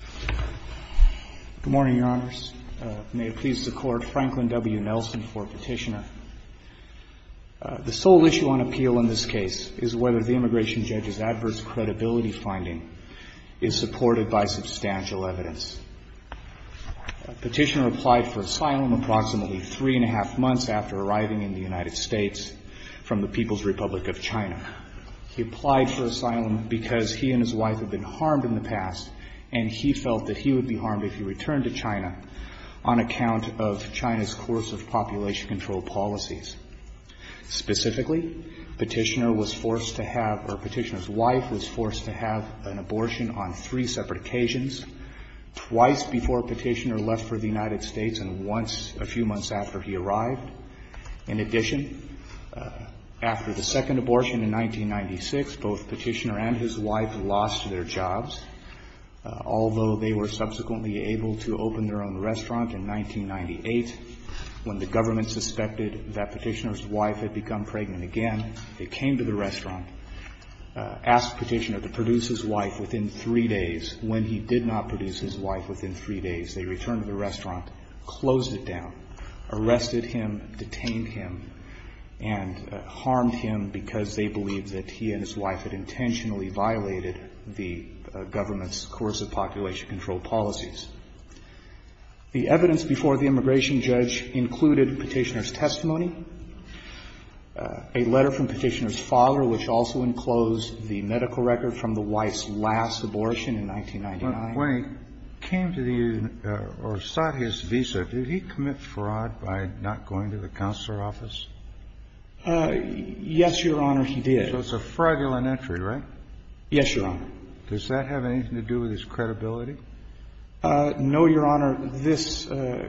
Good morning, Your Honors. May it please the Court, Franklin W. Nelson for Petitioner. The sole issue on appeal in this case is whether the immigration judge's adverse credibility finding is supported by substantial evidence. Petitioner applied for asylum approximately three and a half months after arriving in the United States from the People's Republic of China. He applied for asylum because he and his wife had been harmed in the past and he felt that he would be harmed if he returned to China on account of China's coercive population control policies. Specifically, Petitioner was forced to have or Petitioner's wife was forced to have an abortion on three separate occasions, twice before Petitioner left for the United States and once a few months after he arrived. In addition, after the second although they were subsequently able to open their own restaurant in 1998, when the government suspected that Petitioner's wife had become pregnant again, they came to the restaurant, asked Petitioner to produce his wife within three days. When he did not produce his wife within three days, they returned to the restaurant, closed it down, arrested him, detained him and harmed him because they believed that he and his wife had intentionally violated the government's coercive population control policies. The evidence before the immigration judge included Petitioner's testimony, a letter from Petitioner's father, which also enclosed the medical record from the wife's last abortion in 1999. Kennedy. When he came to the United States or sought his visa, did he commit fraud by not going to the counselor's office? Yes, Your Honor, he did. So it's a fraudulent entry, right? Yes, Your Honor. Does that have anything to do with his credibility? No, Your Honor. This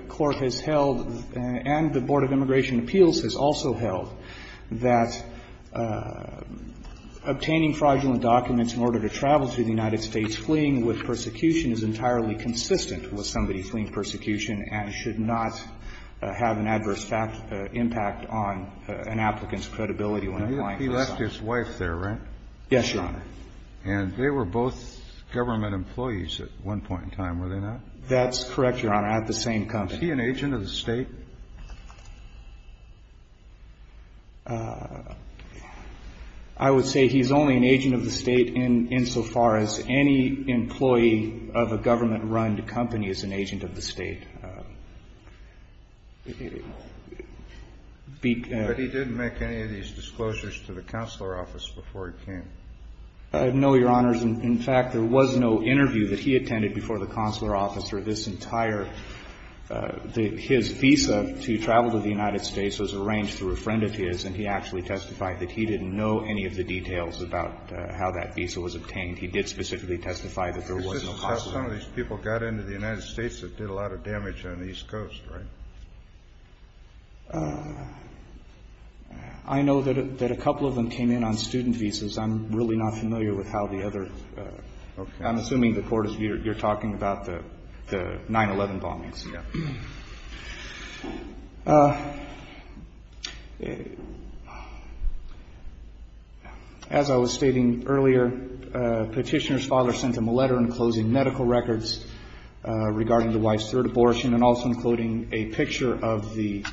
Court has held, and the Board of Immigration Appeals has also held, that obtaining fraudulent documents in order to travel to the United States fleeing with persecution is entirely consistent with somebody fleeing persecution and should not have an adverse impact on an applicant's credibility when applying for asylum. He left his wife there, right? Yes, Your Honor. And they were both government employees at one point in time, were they not? That's correct, Your Honor, at the same company. Is he an agent of the State? I would say he's only an agent of the State insofar as any employee of a government-run company is an agent of the State. But he didn't make any of these disclosures to the counselor's office before he came? No, Your Honors. In fact, there was no interview that he attended before the counselor's office or this entire – his visa to travel to the United States was arranged through a friend of his, and he actually testified that he didn't know any of the details about how that visa was obtained. He did specifically testify that there was no consular office. Is this how some of these people got into the United States that did a lot of damage on the East Coast, right? I know that a couple of them came in on student visas. I'm really not familiar with how the other – I'm assuming the court is – you're talking about the 9-11 bombings. Yes. As I was stating earlier, Petitioner's father sent him a letter in closing medical records regarding the wife's third abortion and also including a picture of the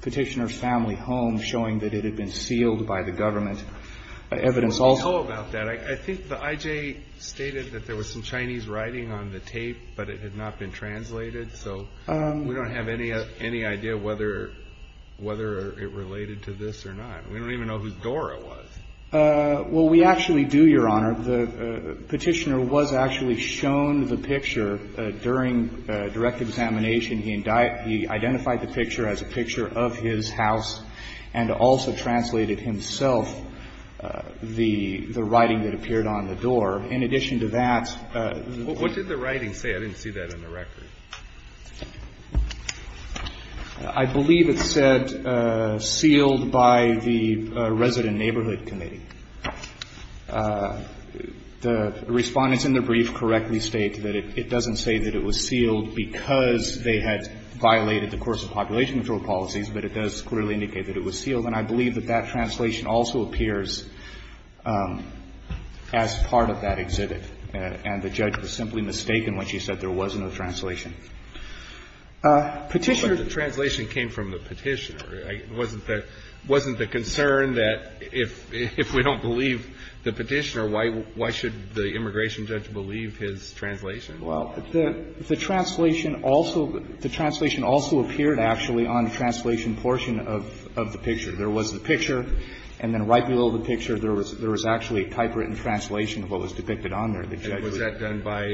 Petitioner's family home showing that it had been sealed by the government. Evidence also – What do we know about that? I think the I.J. stated that there was some Chinese writing on the tape, but it had not been translated, so we don't have any idea whether it related to this or not. We don't even know who Dora was. Well, we actually do, Your Honor. The Petitioner was actually shown the picture during direct examination. He identified the picture as a picture of his house and also translated himself the writing that appeared on the door. In addition to that – What did the writing say? I didn't see that in the record. I believe it said sealed by the Resident Neighborhood Committee. The Respondents in the brief correctly state that it doesn't say that it was sealed because they had violated the course of population control policies, but it does clearly indicate that it was sealed. And I believe that that translation also appears as part of that exhibit. And the judge was simply mistaken when she said there was no translation. Petitioner – But the translation came from the Petitioner. Wasn't the concern that if we don't believe the Petitioner, why should the immigration judge believe his translation? Well, the translation also – the translation also appeared actually on the translation portion of the picture. There was the picture, and then right below the picture there was actually a typewritten translation of what was depicted on there. And was that done by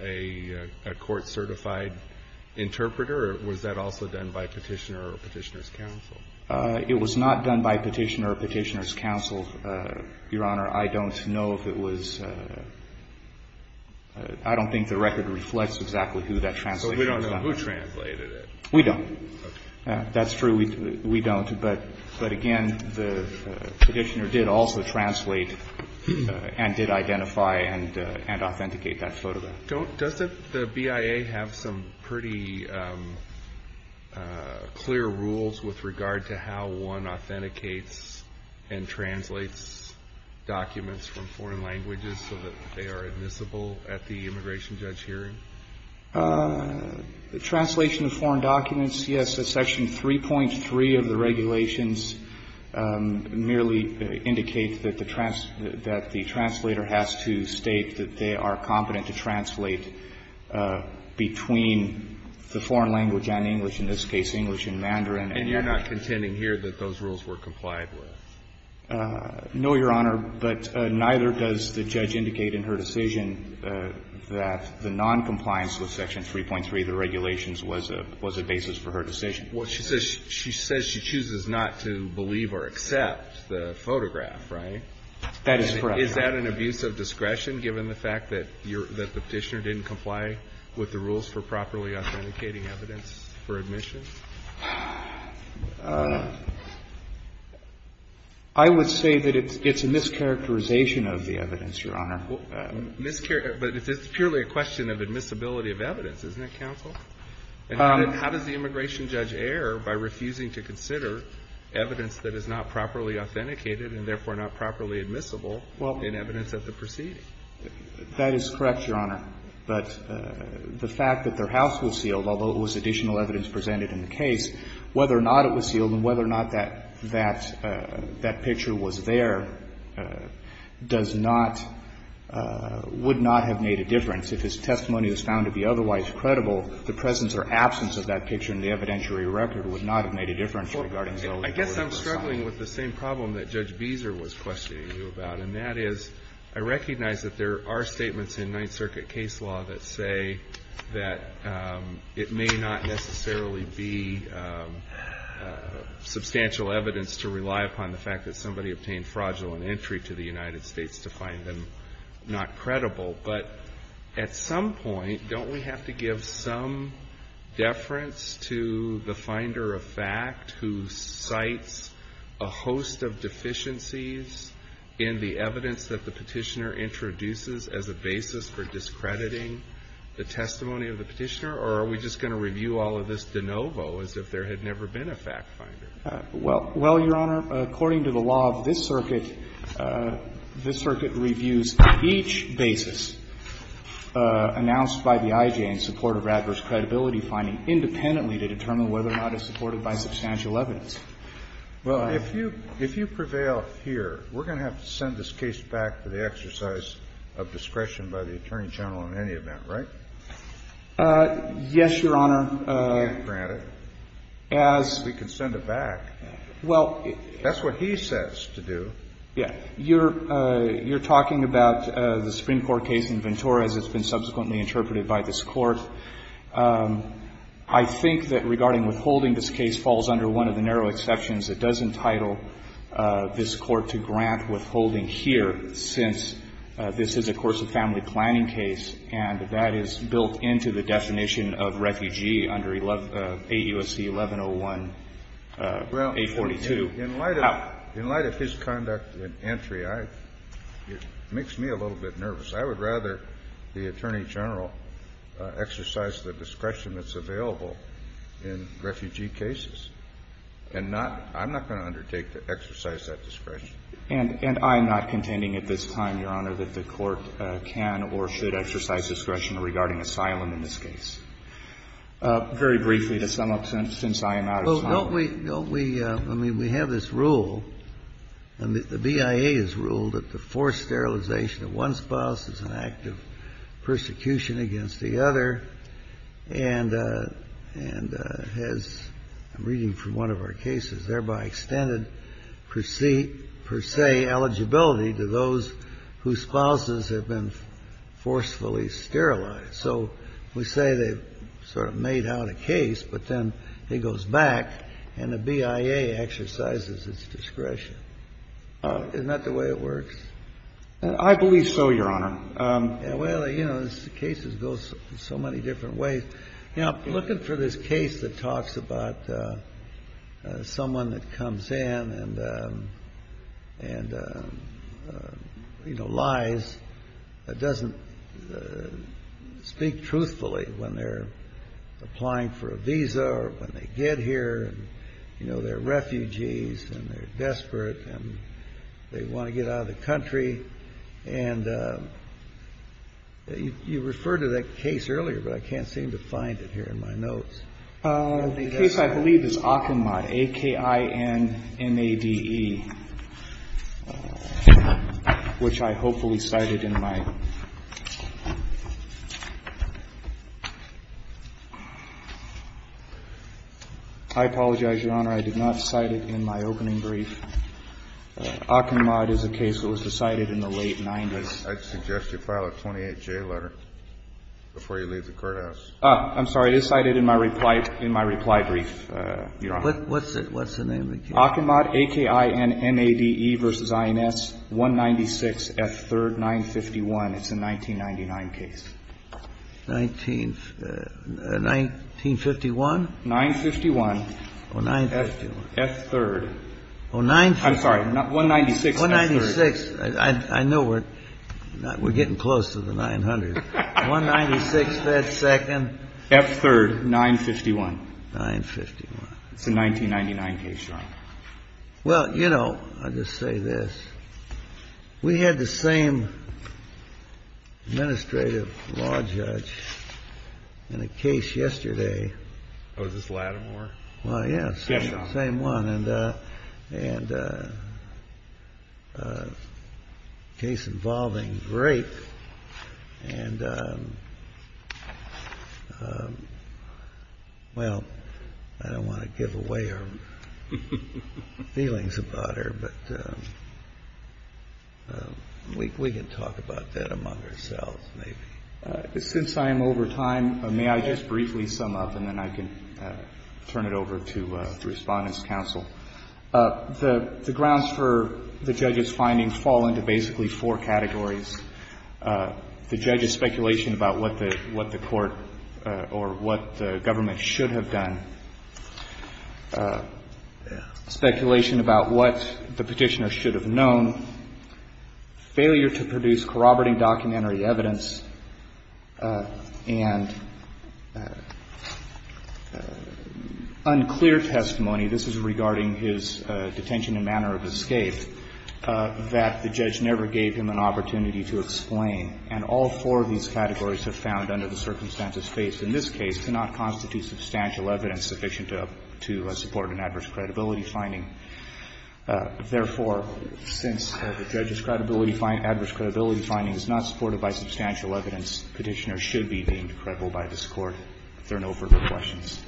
a court-certified interpreter, or was that also done by Petitioner or Petitioner's counsel? It was not done by Petitioner or Petitioner's counsel, Your Honor. I don't know if it was – I don't think the record reflects exactly who that translation was done by. So we don't know who translated it. We don't. Okay. That's true. We don't. But, again, the Petitioner did also translate and did identify and authenticate that photograph. Doesn't the BIA have some pretty clear rules with regard to how one authenticates and translates documents from foreign languages so that they are admissible at the immigration judge hearing? Translation of foreign documents, yes. Section 3.3 of the regulations merely indicates that the translator has to state that they are competent to translate between the foreign language and English, in this case English and Mandarin. And you're not contending here that those rules were complied with? No, Your Honor. But neither does the judge indicate in her decision that the noncompliance with Section 3.3 of the regulations was a basis for her decision. Well, she says she chooses not to believe or accept the photograph, right? That is correct. Is that an abuse of discretion, given the fact that the Petitioner didn't comply with the rules for properly authenticating evidence for admission? I would say that it's a mischaracterization of the evidence, Your Honor. But it's purely a question of admissibility of evidence, isn't it, counsel? And how does the immigration judge err by refusing to consider evidence that is not properly authenticated and therefore not properly admissible in evidence at the proceeding? That is correct, Your Honor. But the fact that their house was sealed, although it was additional evidence presented in the case, whether or not it was sealed and whether or not that picture was there does not – would not have made a difference. If his testimony was found to be otherwise credible, the presence or absence of that picture in the evidentiary record would not have made a difference regarding those words or sign. I guess I'm struggling with the same problem that Judge Beezer was questioning you about, and that is I recognize that there are statements in Ninth Circuit case law that say that it may not necessarily be substantial evidence to rely upon the fact that somebody obtained fraudulent entry to the United States to find them not credible. But at some point, don't we have to give some deference to the finder of fact who cites a host of deficiencies in the evidence that the petitioner introduces as a basis for discrediting the testimony of the petitioner, or are we just going to review all of this de novo as if there had never been a fact finder? Well, Your Honor, according to the law of this circuit, this circuit reviews each basis announced by the IJ in support of adverse credibility finding independently to determine whether or not it's supported by substantial evidence. Well, if you prevail here, we're going to have to send this case back to the exercise of discretion by the Attorney General in any event, right? Yes, Your Honor. You can't grant it. As we can send it back. Well, it's. That's what he says to do. Yeah. You're talking about the Supreme Court case in Ventura as it's been subsequently interpreted by this Court. I think that regarding withholding this case falls under one of the narrow exceptions. It does entitle this Court to grant withholding here since this is, of course, a family planning case, and that is built into the definition of refugee under 8 U.S.C. 1101, 842. Well, in light of his conduct in entry, it makes me a little bit nervous. I would rather the Attorney General exercise the discretion that's available in refugee cases and not — I'm not going to undertake to exercise that discretion. And I'm not contending at this time, Your Honor, that the Court can or should exercise discretion regarding asylum in this case. Very briefly, to sum up, since I am out of time. Well, don't we — don't we — I mean, we have this rule, and the BIA has ruled that the forced sterilization of one spouse is an act of persecution against the other, and has, I'm reading from one of our cases, thereby extended per se eligibility to those whose spouses have been forcefully sterilized. So we say they've sort of made out a case, but then it goes back and the BIA exercises its discretion. Isn't that the way it works? I believe so, Your Honor. Well, you know, cases go so many different ways. You know, looking for this case that talks about someone that comes in and, you know, lies, doesn't speak truthfully when they're applying for a visa or when they get here. You know, they're refugees and they're desperate and they want to get out of the country. And you referred to that case earlier, but I can't seem to find it here in my notes. The case I believe is Achenmad, A-K-I-N-M-A-D-E, which I hopefully cited in my — I apologize, Your Honor. I did not cite it in my opening brief. Achenmad is a case that was decided in the late 90s. I suggest you file a 28-J letter before you leave the courthouse. I'm sorry. It is cited in my reply brief, Your Honor. What's the name of the case? Achenmad, A-K-I-N-M-A-D-E v. I-N-S, 196, F-3rd, 951. It's a 1999 case. 1951? 951. F-3rd. I'm sorry. 196, F-3rd. 196. I know we're getting close to the 900. 196, F-2nd. F-3rd, 951. 951. It's a 1999 case, Your Honor. Well, you know, I'll just say this. We had the same administrative law judge in a case yesterday. Oh, was this Lattimore? Well, yes. Yes, Your Honor. The same one. And a case involving rape. And, well, I don't want to give away our feelings about her, but we can talk about that among ourselves maybe. Since I am over time, may I just briefly sum up, and then I can turn it over to the Respondent's counsel? The grounds for the judge's findings fall into basically four categories. The judge's speculation about what the court or what the government should have done, speculation about what the Petitioner should have known, failure to produce corroborating documentary evidence, and unclear testimony. This is regarding his detention and manner of escape, that the judge never gave him an opportunity to explain. And all four of these categories are found under the circumstances faced in this case to not constitute substantial evidence sufficient to support an adverse credibility finding. Therefore, since the judge's credibility finding, adverse credibility finding is not supported by substantial evidence, Petitioner should be deemed credible by this Court. If there are no further questions.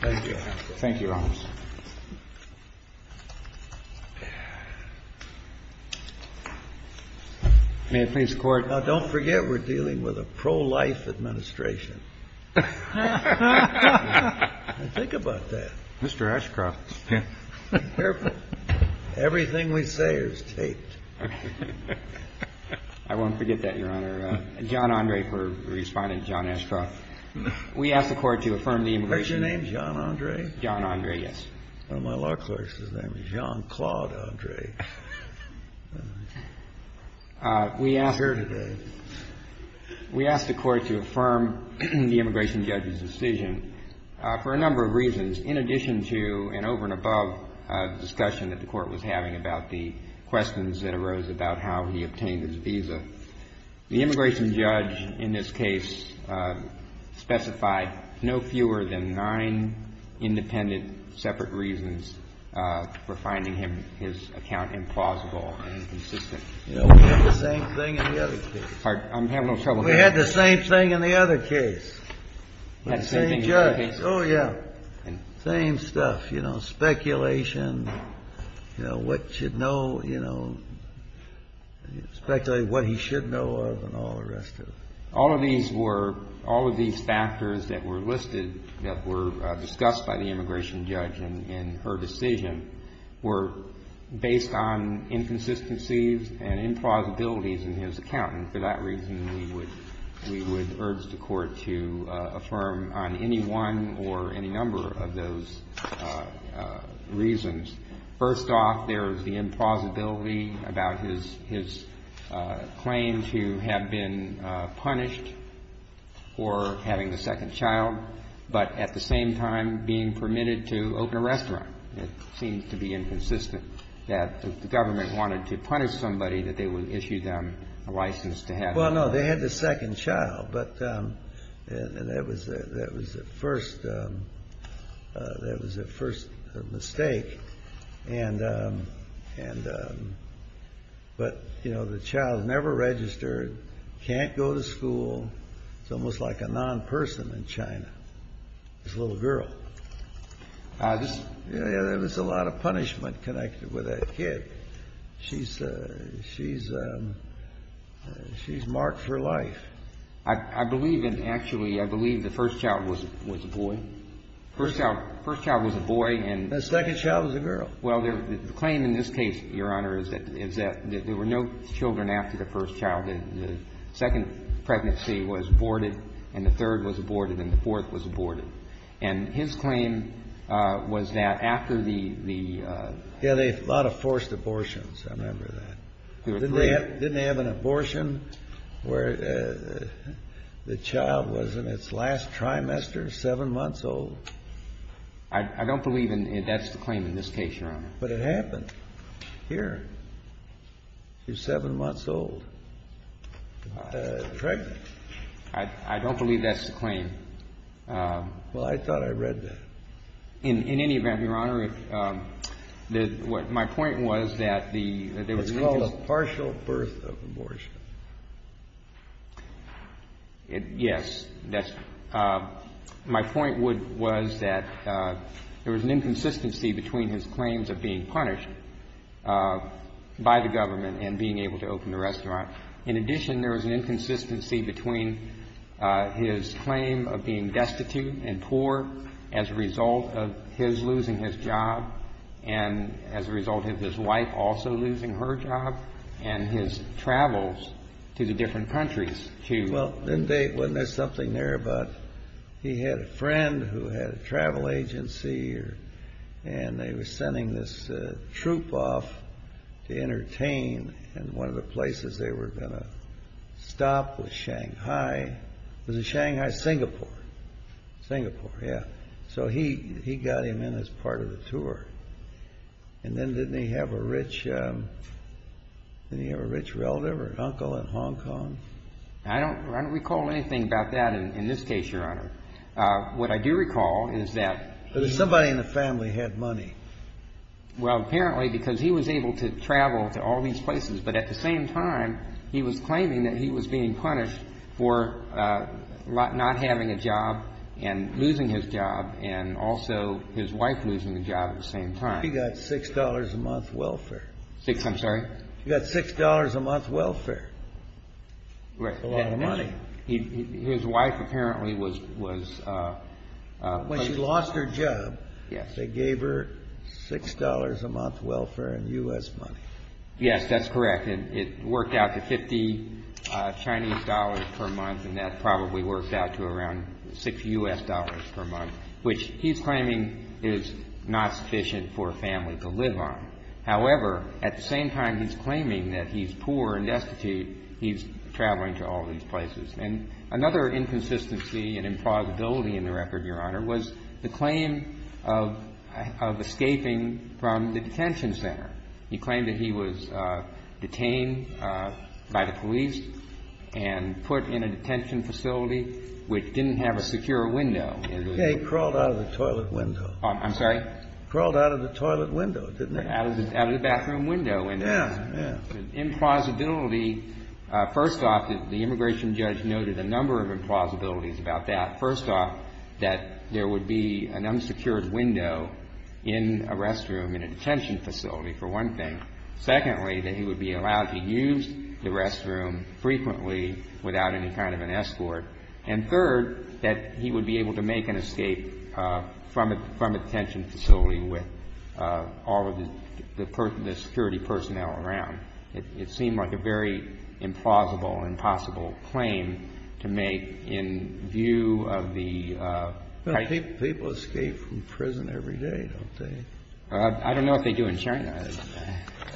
Thank you, Your Honor. Thank you, Your Honor. May it please the Court. Now, don't forget we're dealing with a pro-life administration. Think about that. Mr. Ashcroft. Careful. Everything we say is taped. I won't forget that, Your Honor. John Andre for Respondent John Ashcroft. We ask the Court to affirm the immigration judge's decision. Is your name John Andre? John Andre, yes. One of my law clerks' name is John Claude Andre. He's here today. We ask the Court to affirm the immigration judge's decision for a number of reasons. In addition to an over-and-above discussion that the Court was having about the questions that arose about how he obtained his visa, the immigration judge in this case specified no fewer than nine independent separate reasons for finding his account implausible and inconsistent. We had the same thing in the other case. I'm having a little trouble here. We had the same thing in the other case. We had the same thing in the other case. Oh, yeah. Same stuff, you know, speculation, you know, what should know, you know, speculating what he should know of and all the rest of it. All of these were – all of these factors that were listed, that were discussed by the immigration judge in her decision, were based on inconsistencies and implausibilities in his account, and for that reason, we would urge the Court to affirm on any one or any number of those reasons. First off, there is the implausibility about his claim to have been punished for having a second child, but at the same time being permitted to open a restaurant. It seems to be inconsistent that the government wanted to punish somebody that they would issue them a license to have. Well, no. They had the second child, but that was the first – that was the first mistake. And – but, you know, the child never registered, can't go to school. It's almost like a non-person in China, this little girl. There was a lot of punishment connected with that kid. She's – she's – she's marked for life. I believe in – actually, I believe the first child was a boy. First child was a boy and – The second child was a girl. Well, the claim in this case, Your Honor, is that there were no children after the first childhood. The second pregnancy was aborted and the third was aborted and the fourth was aborted. And his claim was that after the – the – Yeah, they had a lot of forced abortions. I remember that. Didn't they have – didn't they have an abortion where the child was in its last trimester, 7 months old? I don't believe in – that's the claim in this case, Your Honor. But it happened here. She was 7 months old, pregnant. I don't believe that's the claim. Well, I thought I read that. In any event, Your Honor, my point was that the – It's called a partial birth of abortion. Yes, that's – my point was that there was an inconsistency between his claims of being punished by the government and being able to open the restaurant. In addition, there was an inconsistency between his claim of being destitute and poor as a result of his losing his job and as a result of his wife also losing her job and his travels to the different countries to – Well, didn't they – wasn't there something there about he had a friend who had a travel agency and they were sending this troop off to entertain and one of the places they were going to stop was Shanghai. Was it Shanghai? Singapore. Singapore, yeah. So he got him in as part of the tour. And then didn't he have a rich – didn't he have a rich relative or uncle in Hong Kong? I don't recall anything about that in this case, Your Honor. What I do recall is that he – Somebody in the family had money. Well, apparently, because he was able to travel to all these places, but at the same time he was claiming that he was being punished for not having a job and losing his job and also his wife losing a job at the same time. He got $6 a month welfare. I'm sorry? He got $6 a month welfare. Right. A lot of money. His wife apparently was – When she lost her job, they gave her $6 a month welfare in U.S. money. Yes, that's correct, and it worked out to $50 Chinese dollars per month and that probably worked out to around $6 U.S. dollars per month, which he's claiming is not sufficient for a family to live on. However, at the same time he's claiming that he's poor and destitute, he's traveling to all these places. And another inconsistency and implausibility in the record, Your Honor, was the claim of escaping from the detention center. He claimed that he was detained by the police and put in a detention facility which didn't have a secure window. He crawled out of the toilet window. Crawled out of the toilet window, didn't he? Out of the bathroom window. Implausibility. First off, the immigration judge noted a number of implausibilities about that. First off, that there would be an unsecured window in a restroom in a detention facility, for one thing. Secondly, that he would be allowed to use the restroom frequently without any kind of an escort. And third, that he would be able to make an escape from a detention facility with all of the security personnel around. It seemed like a very implausible, impossible claim to make in view of the type of ---- People escape from prison every day, don't they? I don't know if they do in China.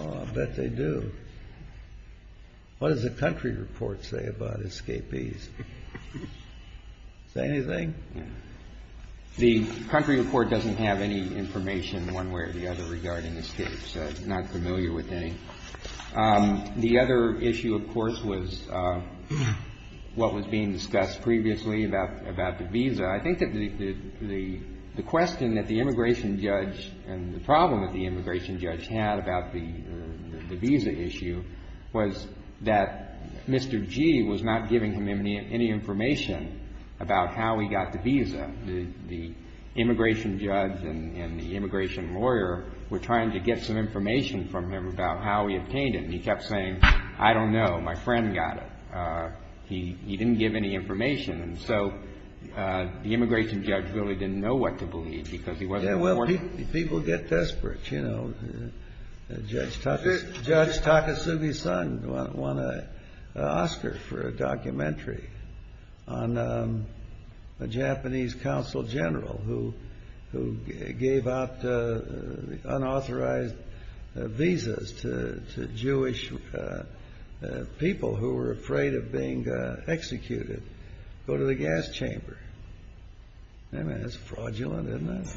I bet they do. What does the country report say about escapees? Say anything? The country report doesn't have any information one way or the other regarding escapees. I'm not familiar with any. The other issue, of course, was what was being discussed previously about the visa. I think that the question that the immigration judge and the problem that the immigration judge had about the visa issue was that Mr. Gee was not giving him any information about how he got the visa. The immigration judge and the immigration lawyer were trying to get some information from him about how he obtained it, and he kept saying, I don't know. My friend got it. He didn't give any information. And so the immigration judge really didn't know what to believe because he wasn't working on it. Yeah, well, people get desperate, you know. Judge Takasugi Sung won an Oscar for a documentary on a Japanese consul general who gave out unauthorized visas to Jewish people who were afraid of being executed to go to the gas chamber. I mean, that's fraudulent, isn't it?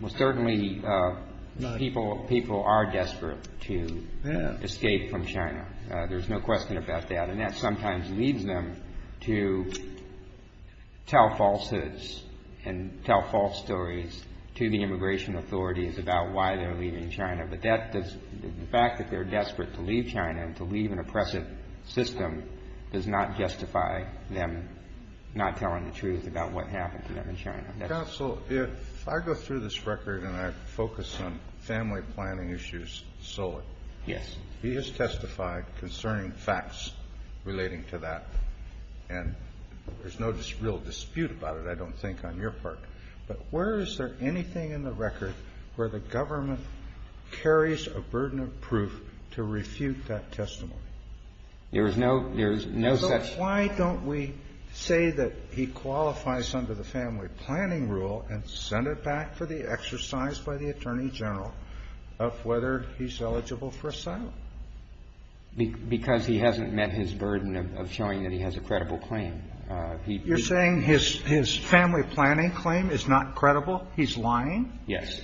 Well, certainly people are desperate to escape from China. There's no question about that, and that sometimes leads them to tell falsehoods and tell false stories to the immigration authorities about why they're leaving China. But the fact that they're desperate to leave China and to leave an oppressive system does not justify them not telling the truth about what happened to them in China. Counsel, if I go through this record and I focus on family planning issues solely. Yes. He has testified concerning facts relating to that, and there's no real dispute about it, I don't think, on your part. But where is there anything in the record where the government carries a burden of proof to refute that testimony? There is no such. Why don't we say that he qualifies under the family planning rule and send it back for the exercise by the attorney general of whether he's eligible for asylum? Because he hasn't met his burden of showing that he has a credible claim. You're saying his family planning claim is not credible? He's lying? Yes.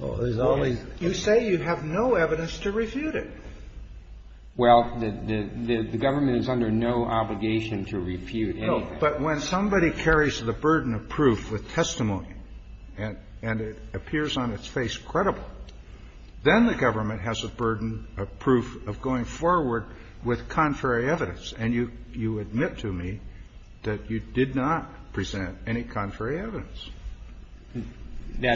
You say you have no evidence to refute it. Well, the government is under no obligation to refute anything. But when somebody carries the burden of proof with testimony and it appears on its face credible, then the government has a burden of proof of going forward with contrary evidence. And you admit to me that you did not present any contrary evidence.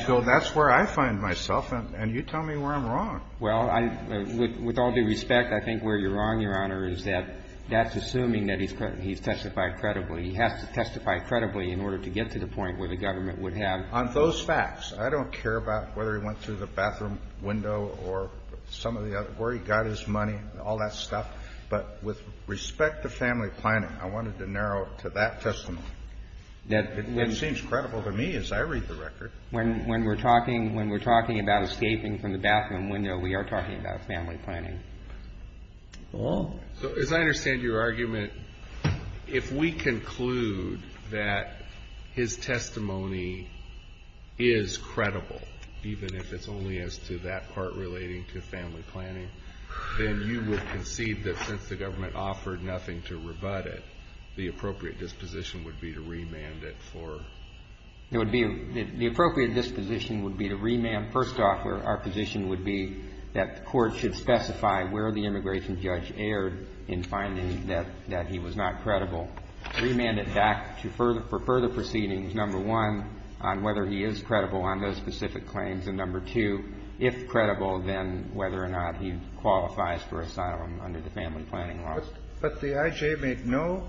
So that's where I find myself, and you tell me where I'm wrong. Well, I — with all due respect, I think where you're wrong, Your Honor, is that that's assuming that he's testified credibly. He has to testify credibly in order to get to the point where the government would have. On those facts, I don't care about whether he went through the bathroom window or some of the other — where he got his money, all that stuff. But with respect to family planning, I wanted to narrow it to that testimony. It seems credible to me as I read the record. When we're talking about escaping from the bathroom window, we are talking about family planning. So as I understand your argument, if we conclude that his testimony is credible, even if it's only as to that part relating to family planning, then you would concede that since the government offered nothing to rebut it, the appropriate disposition would be to remand it for — it would be — the appropriate disposition would be to remand — first off, our position would be that the court should specify where the immigration judge erred in finding that he was not credible, remand it back for further proceedings, number one, on whether he is credible on those specific claims, and number two, if credible, then whether or not he qualifies for asylum under the family planning law. But the I.J. made no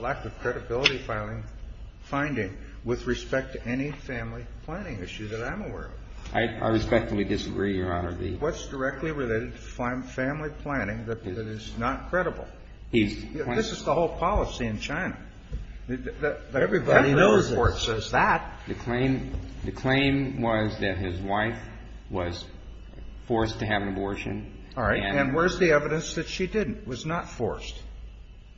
lack of credibility finding with respect to any family planning issue that I'm aware of. I respectfully disagree, Your Honor. What's directly related to family planning that is not credible? He's — This is the whole policy in China. Everybody knows it. The court says that. All right. And where's the evidence that she didn't, was not forced?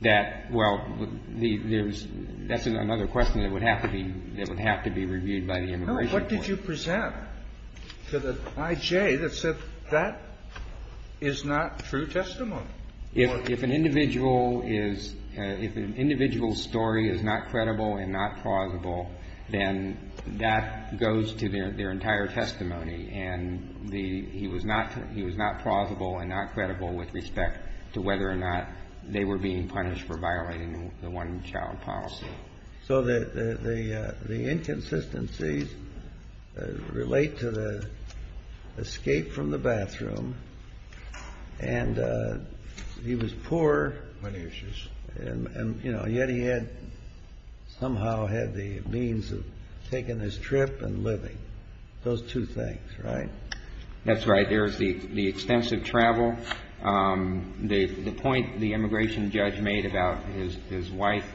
That — well, there's — that's another question that would have to be — that would have to be reviewed by the immigration court. No. What did you present to the I.J. that said that is not true testimony? If an individual is — if an individual's story is not credible and not plausible, then that goes to their entire testimony. And the — he was not — he was not plausible and not credible with respect to whether or not they were being punished for violating the one-child policy. So the inconsistencies relate to the escape from the bathroom, and he was poor. Money issues. And, you know, yet he had — somehow had the means of taking his trip and living. Those two things, right? That's right. There's the extensive travel. The point the immigration judge made about his wife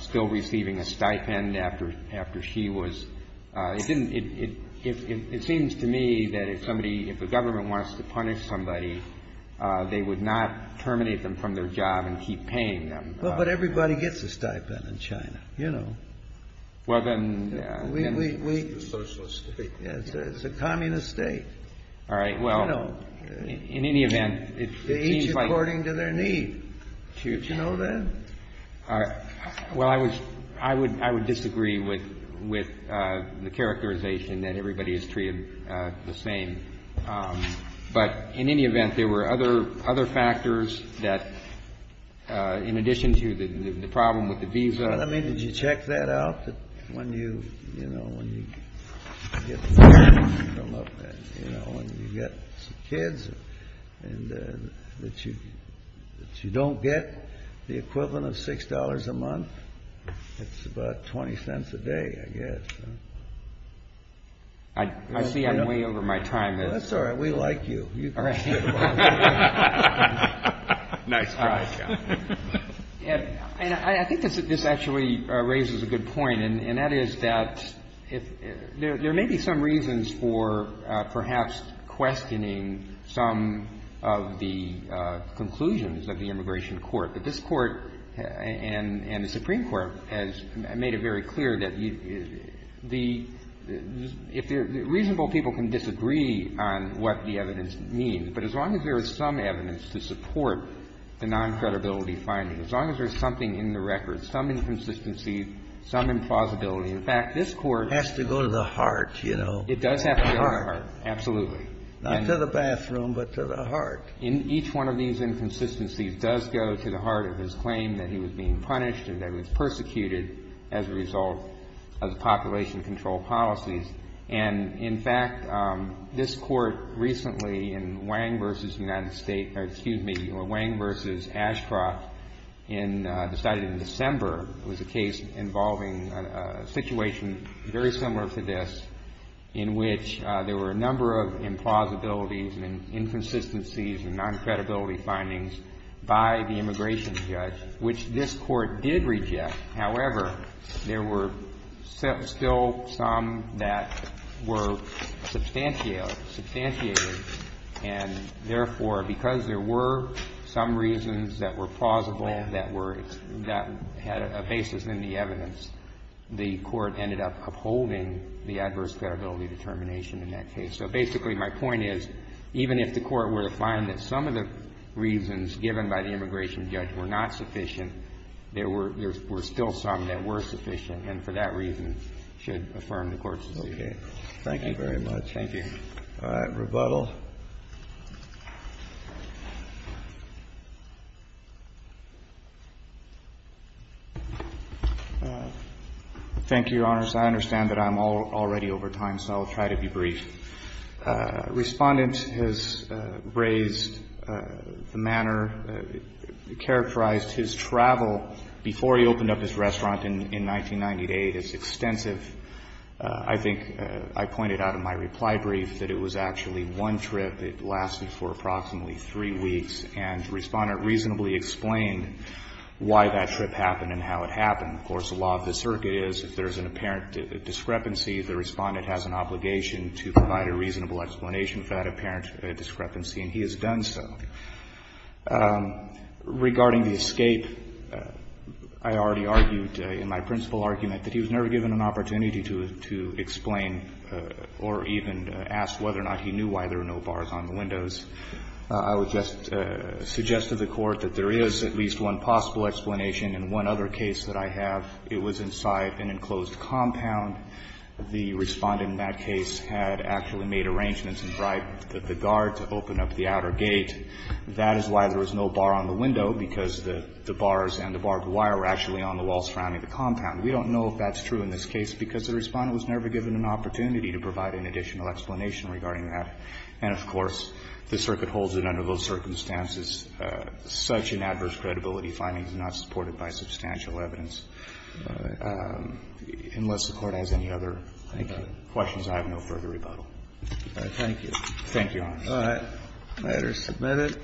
still receiving a stipend after she was — it didn't — it seems to me that if somebody — if the government wants to punish somebody, they would not terminate them from their job and keep paying them. Well, but everybody gets a stipend in China. You know. Well, then — We — we — we — It's a socialist state. It's a communist state. All right. Well — You know. In any event, it seems like — They each according to their need. Do you know that? Well, I would — I would — I would disagree with — with the characterization that everybody is treated the same. But in any event, there were other — other factors that, in addition to the problem with the visa — Well, I mean, did you check that out, that when you — you know, when you get — you know, when you get kids and that you — that you don't get the equivalent of $6 a month? It's about 20 cents a day, I guess. I see I'm way over my time. That's all right. We like you. All right. Nice try, John. And I think this actually raises a good point, and that is that there may be some reasons for perhaps questioning some of the conclusions of the immigration court. But this Court and the Supreme Court has made it very clear that the — if the — reasonable people can disagree on what the evidence means, but as long as there is some evidence to support the non-credibility finding, as long as there's something in the record, some inconsistency, some implausibility, in fact, this Court — Has to go to the heart, you know. It does have to go to the heart, absolutely. Not to the bathroom, but to the heart. Each one of these inconsistencies does go to the heart of his claim that he was being punished and that he was persecuted as a result of the population control policies. And, in fact, this Court recently in Wang v. United States — or, excuse me, Wang v. Ashcroft decided in December, it was a case involving a situation very similar to this, in which there were a number of implausibilities and inconsistencies and non-credibility findings by the immigration judge, which this Court did reject. However, there were still some that were substantiated. And, therefore, because there were some reasons that were plausible that were — that had a basis in the evidence, the Court ended up upholding the adverse credibility determination in that case. So, basically, my point is, even if the Court were to find that some of the reasons given by the immigration judge were not sufficient, there were still some that were sufficient and, for that reason, should affirm the Court's decision. Thank you very much. Thank you. All right. Rebuttal. Thank you, Your Honors. I understand that I'm already over time, so I'll try to be brief. Respondent has raised the manner, characterized his travel before he opened up his restaurant in 1998 as extensive. I think I pointed out in my reply brief that it was actually one trip. It lasted for approximately three weeks. And Respondent reasonably explained why that trip happened and how it happened. Of course, the law of the circuit is if there's an apparent discrepancy, the Respondent has an obligation to provide a reasonable explanation for that apparent discrepancy, and he has done so. Regarding the escape, I already argued in my principal argument that he was never given an opportunity to explain or even ask whether or not he knew why there were no bars on the windows. I would just suggest to the Court that there is at least one possible explanation in one other case that I have. It was inside an enclosed compound. The Respondent in that case had actually made arrangements and bribed the guard to open up the outer gate. That is why there was no bar on the window, because the bars and the barbed wire were actually on the wall surrounding the compound. We don't know if that's true in this case, because the Respondent was never given an opportunity to provide an additional explanation regarding that. And, of course, the circuit holds that under those circumstances, such an adverse credibility finding is not supported by substantial evidence. Unless the Court has any other questions, I have no further rebuttal. Thank you. Thank you, Your Honor. All right. The matter is submitted.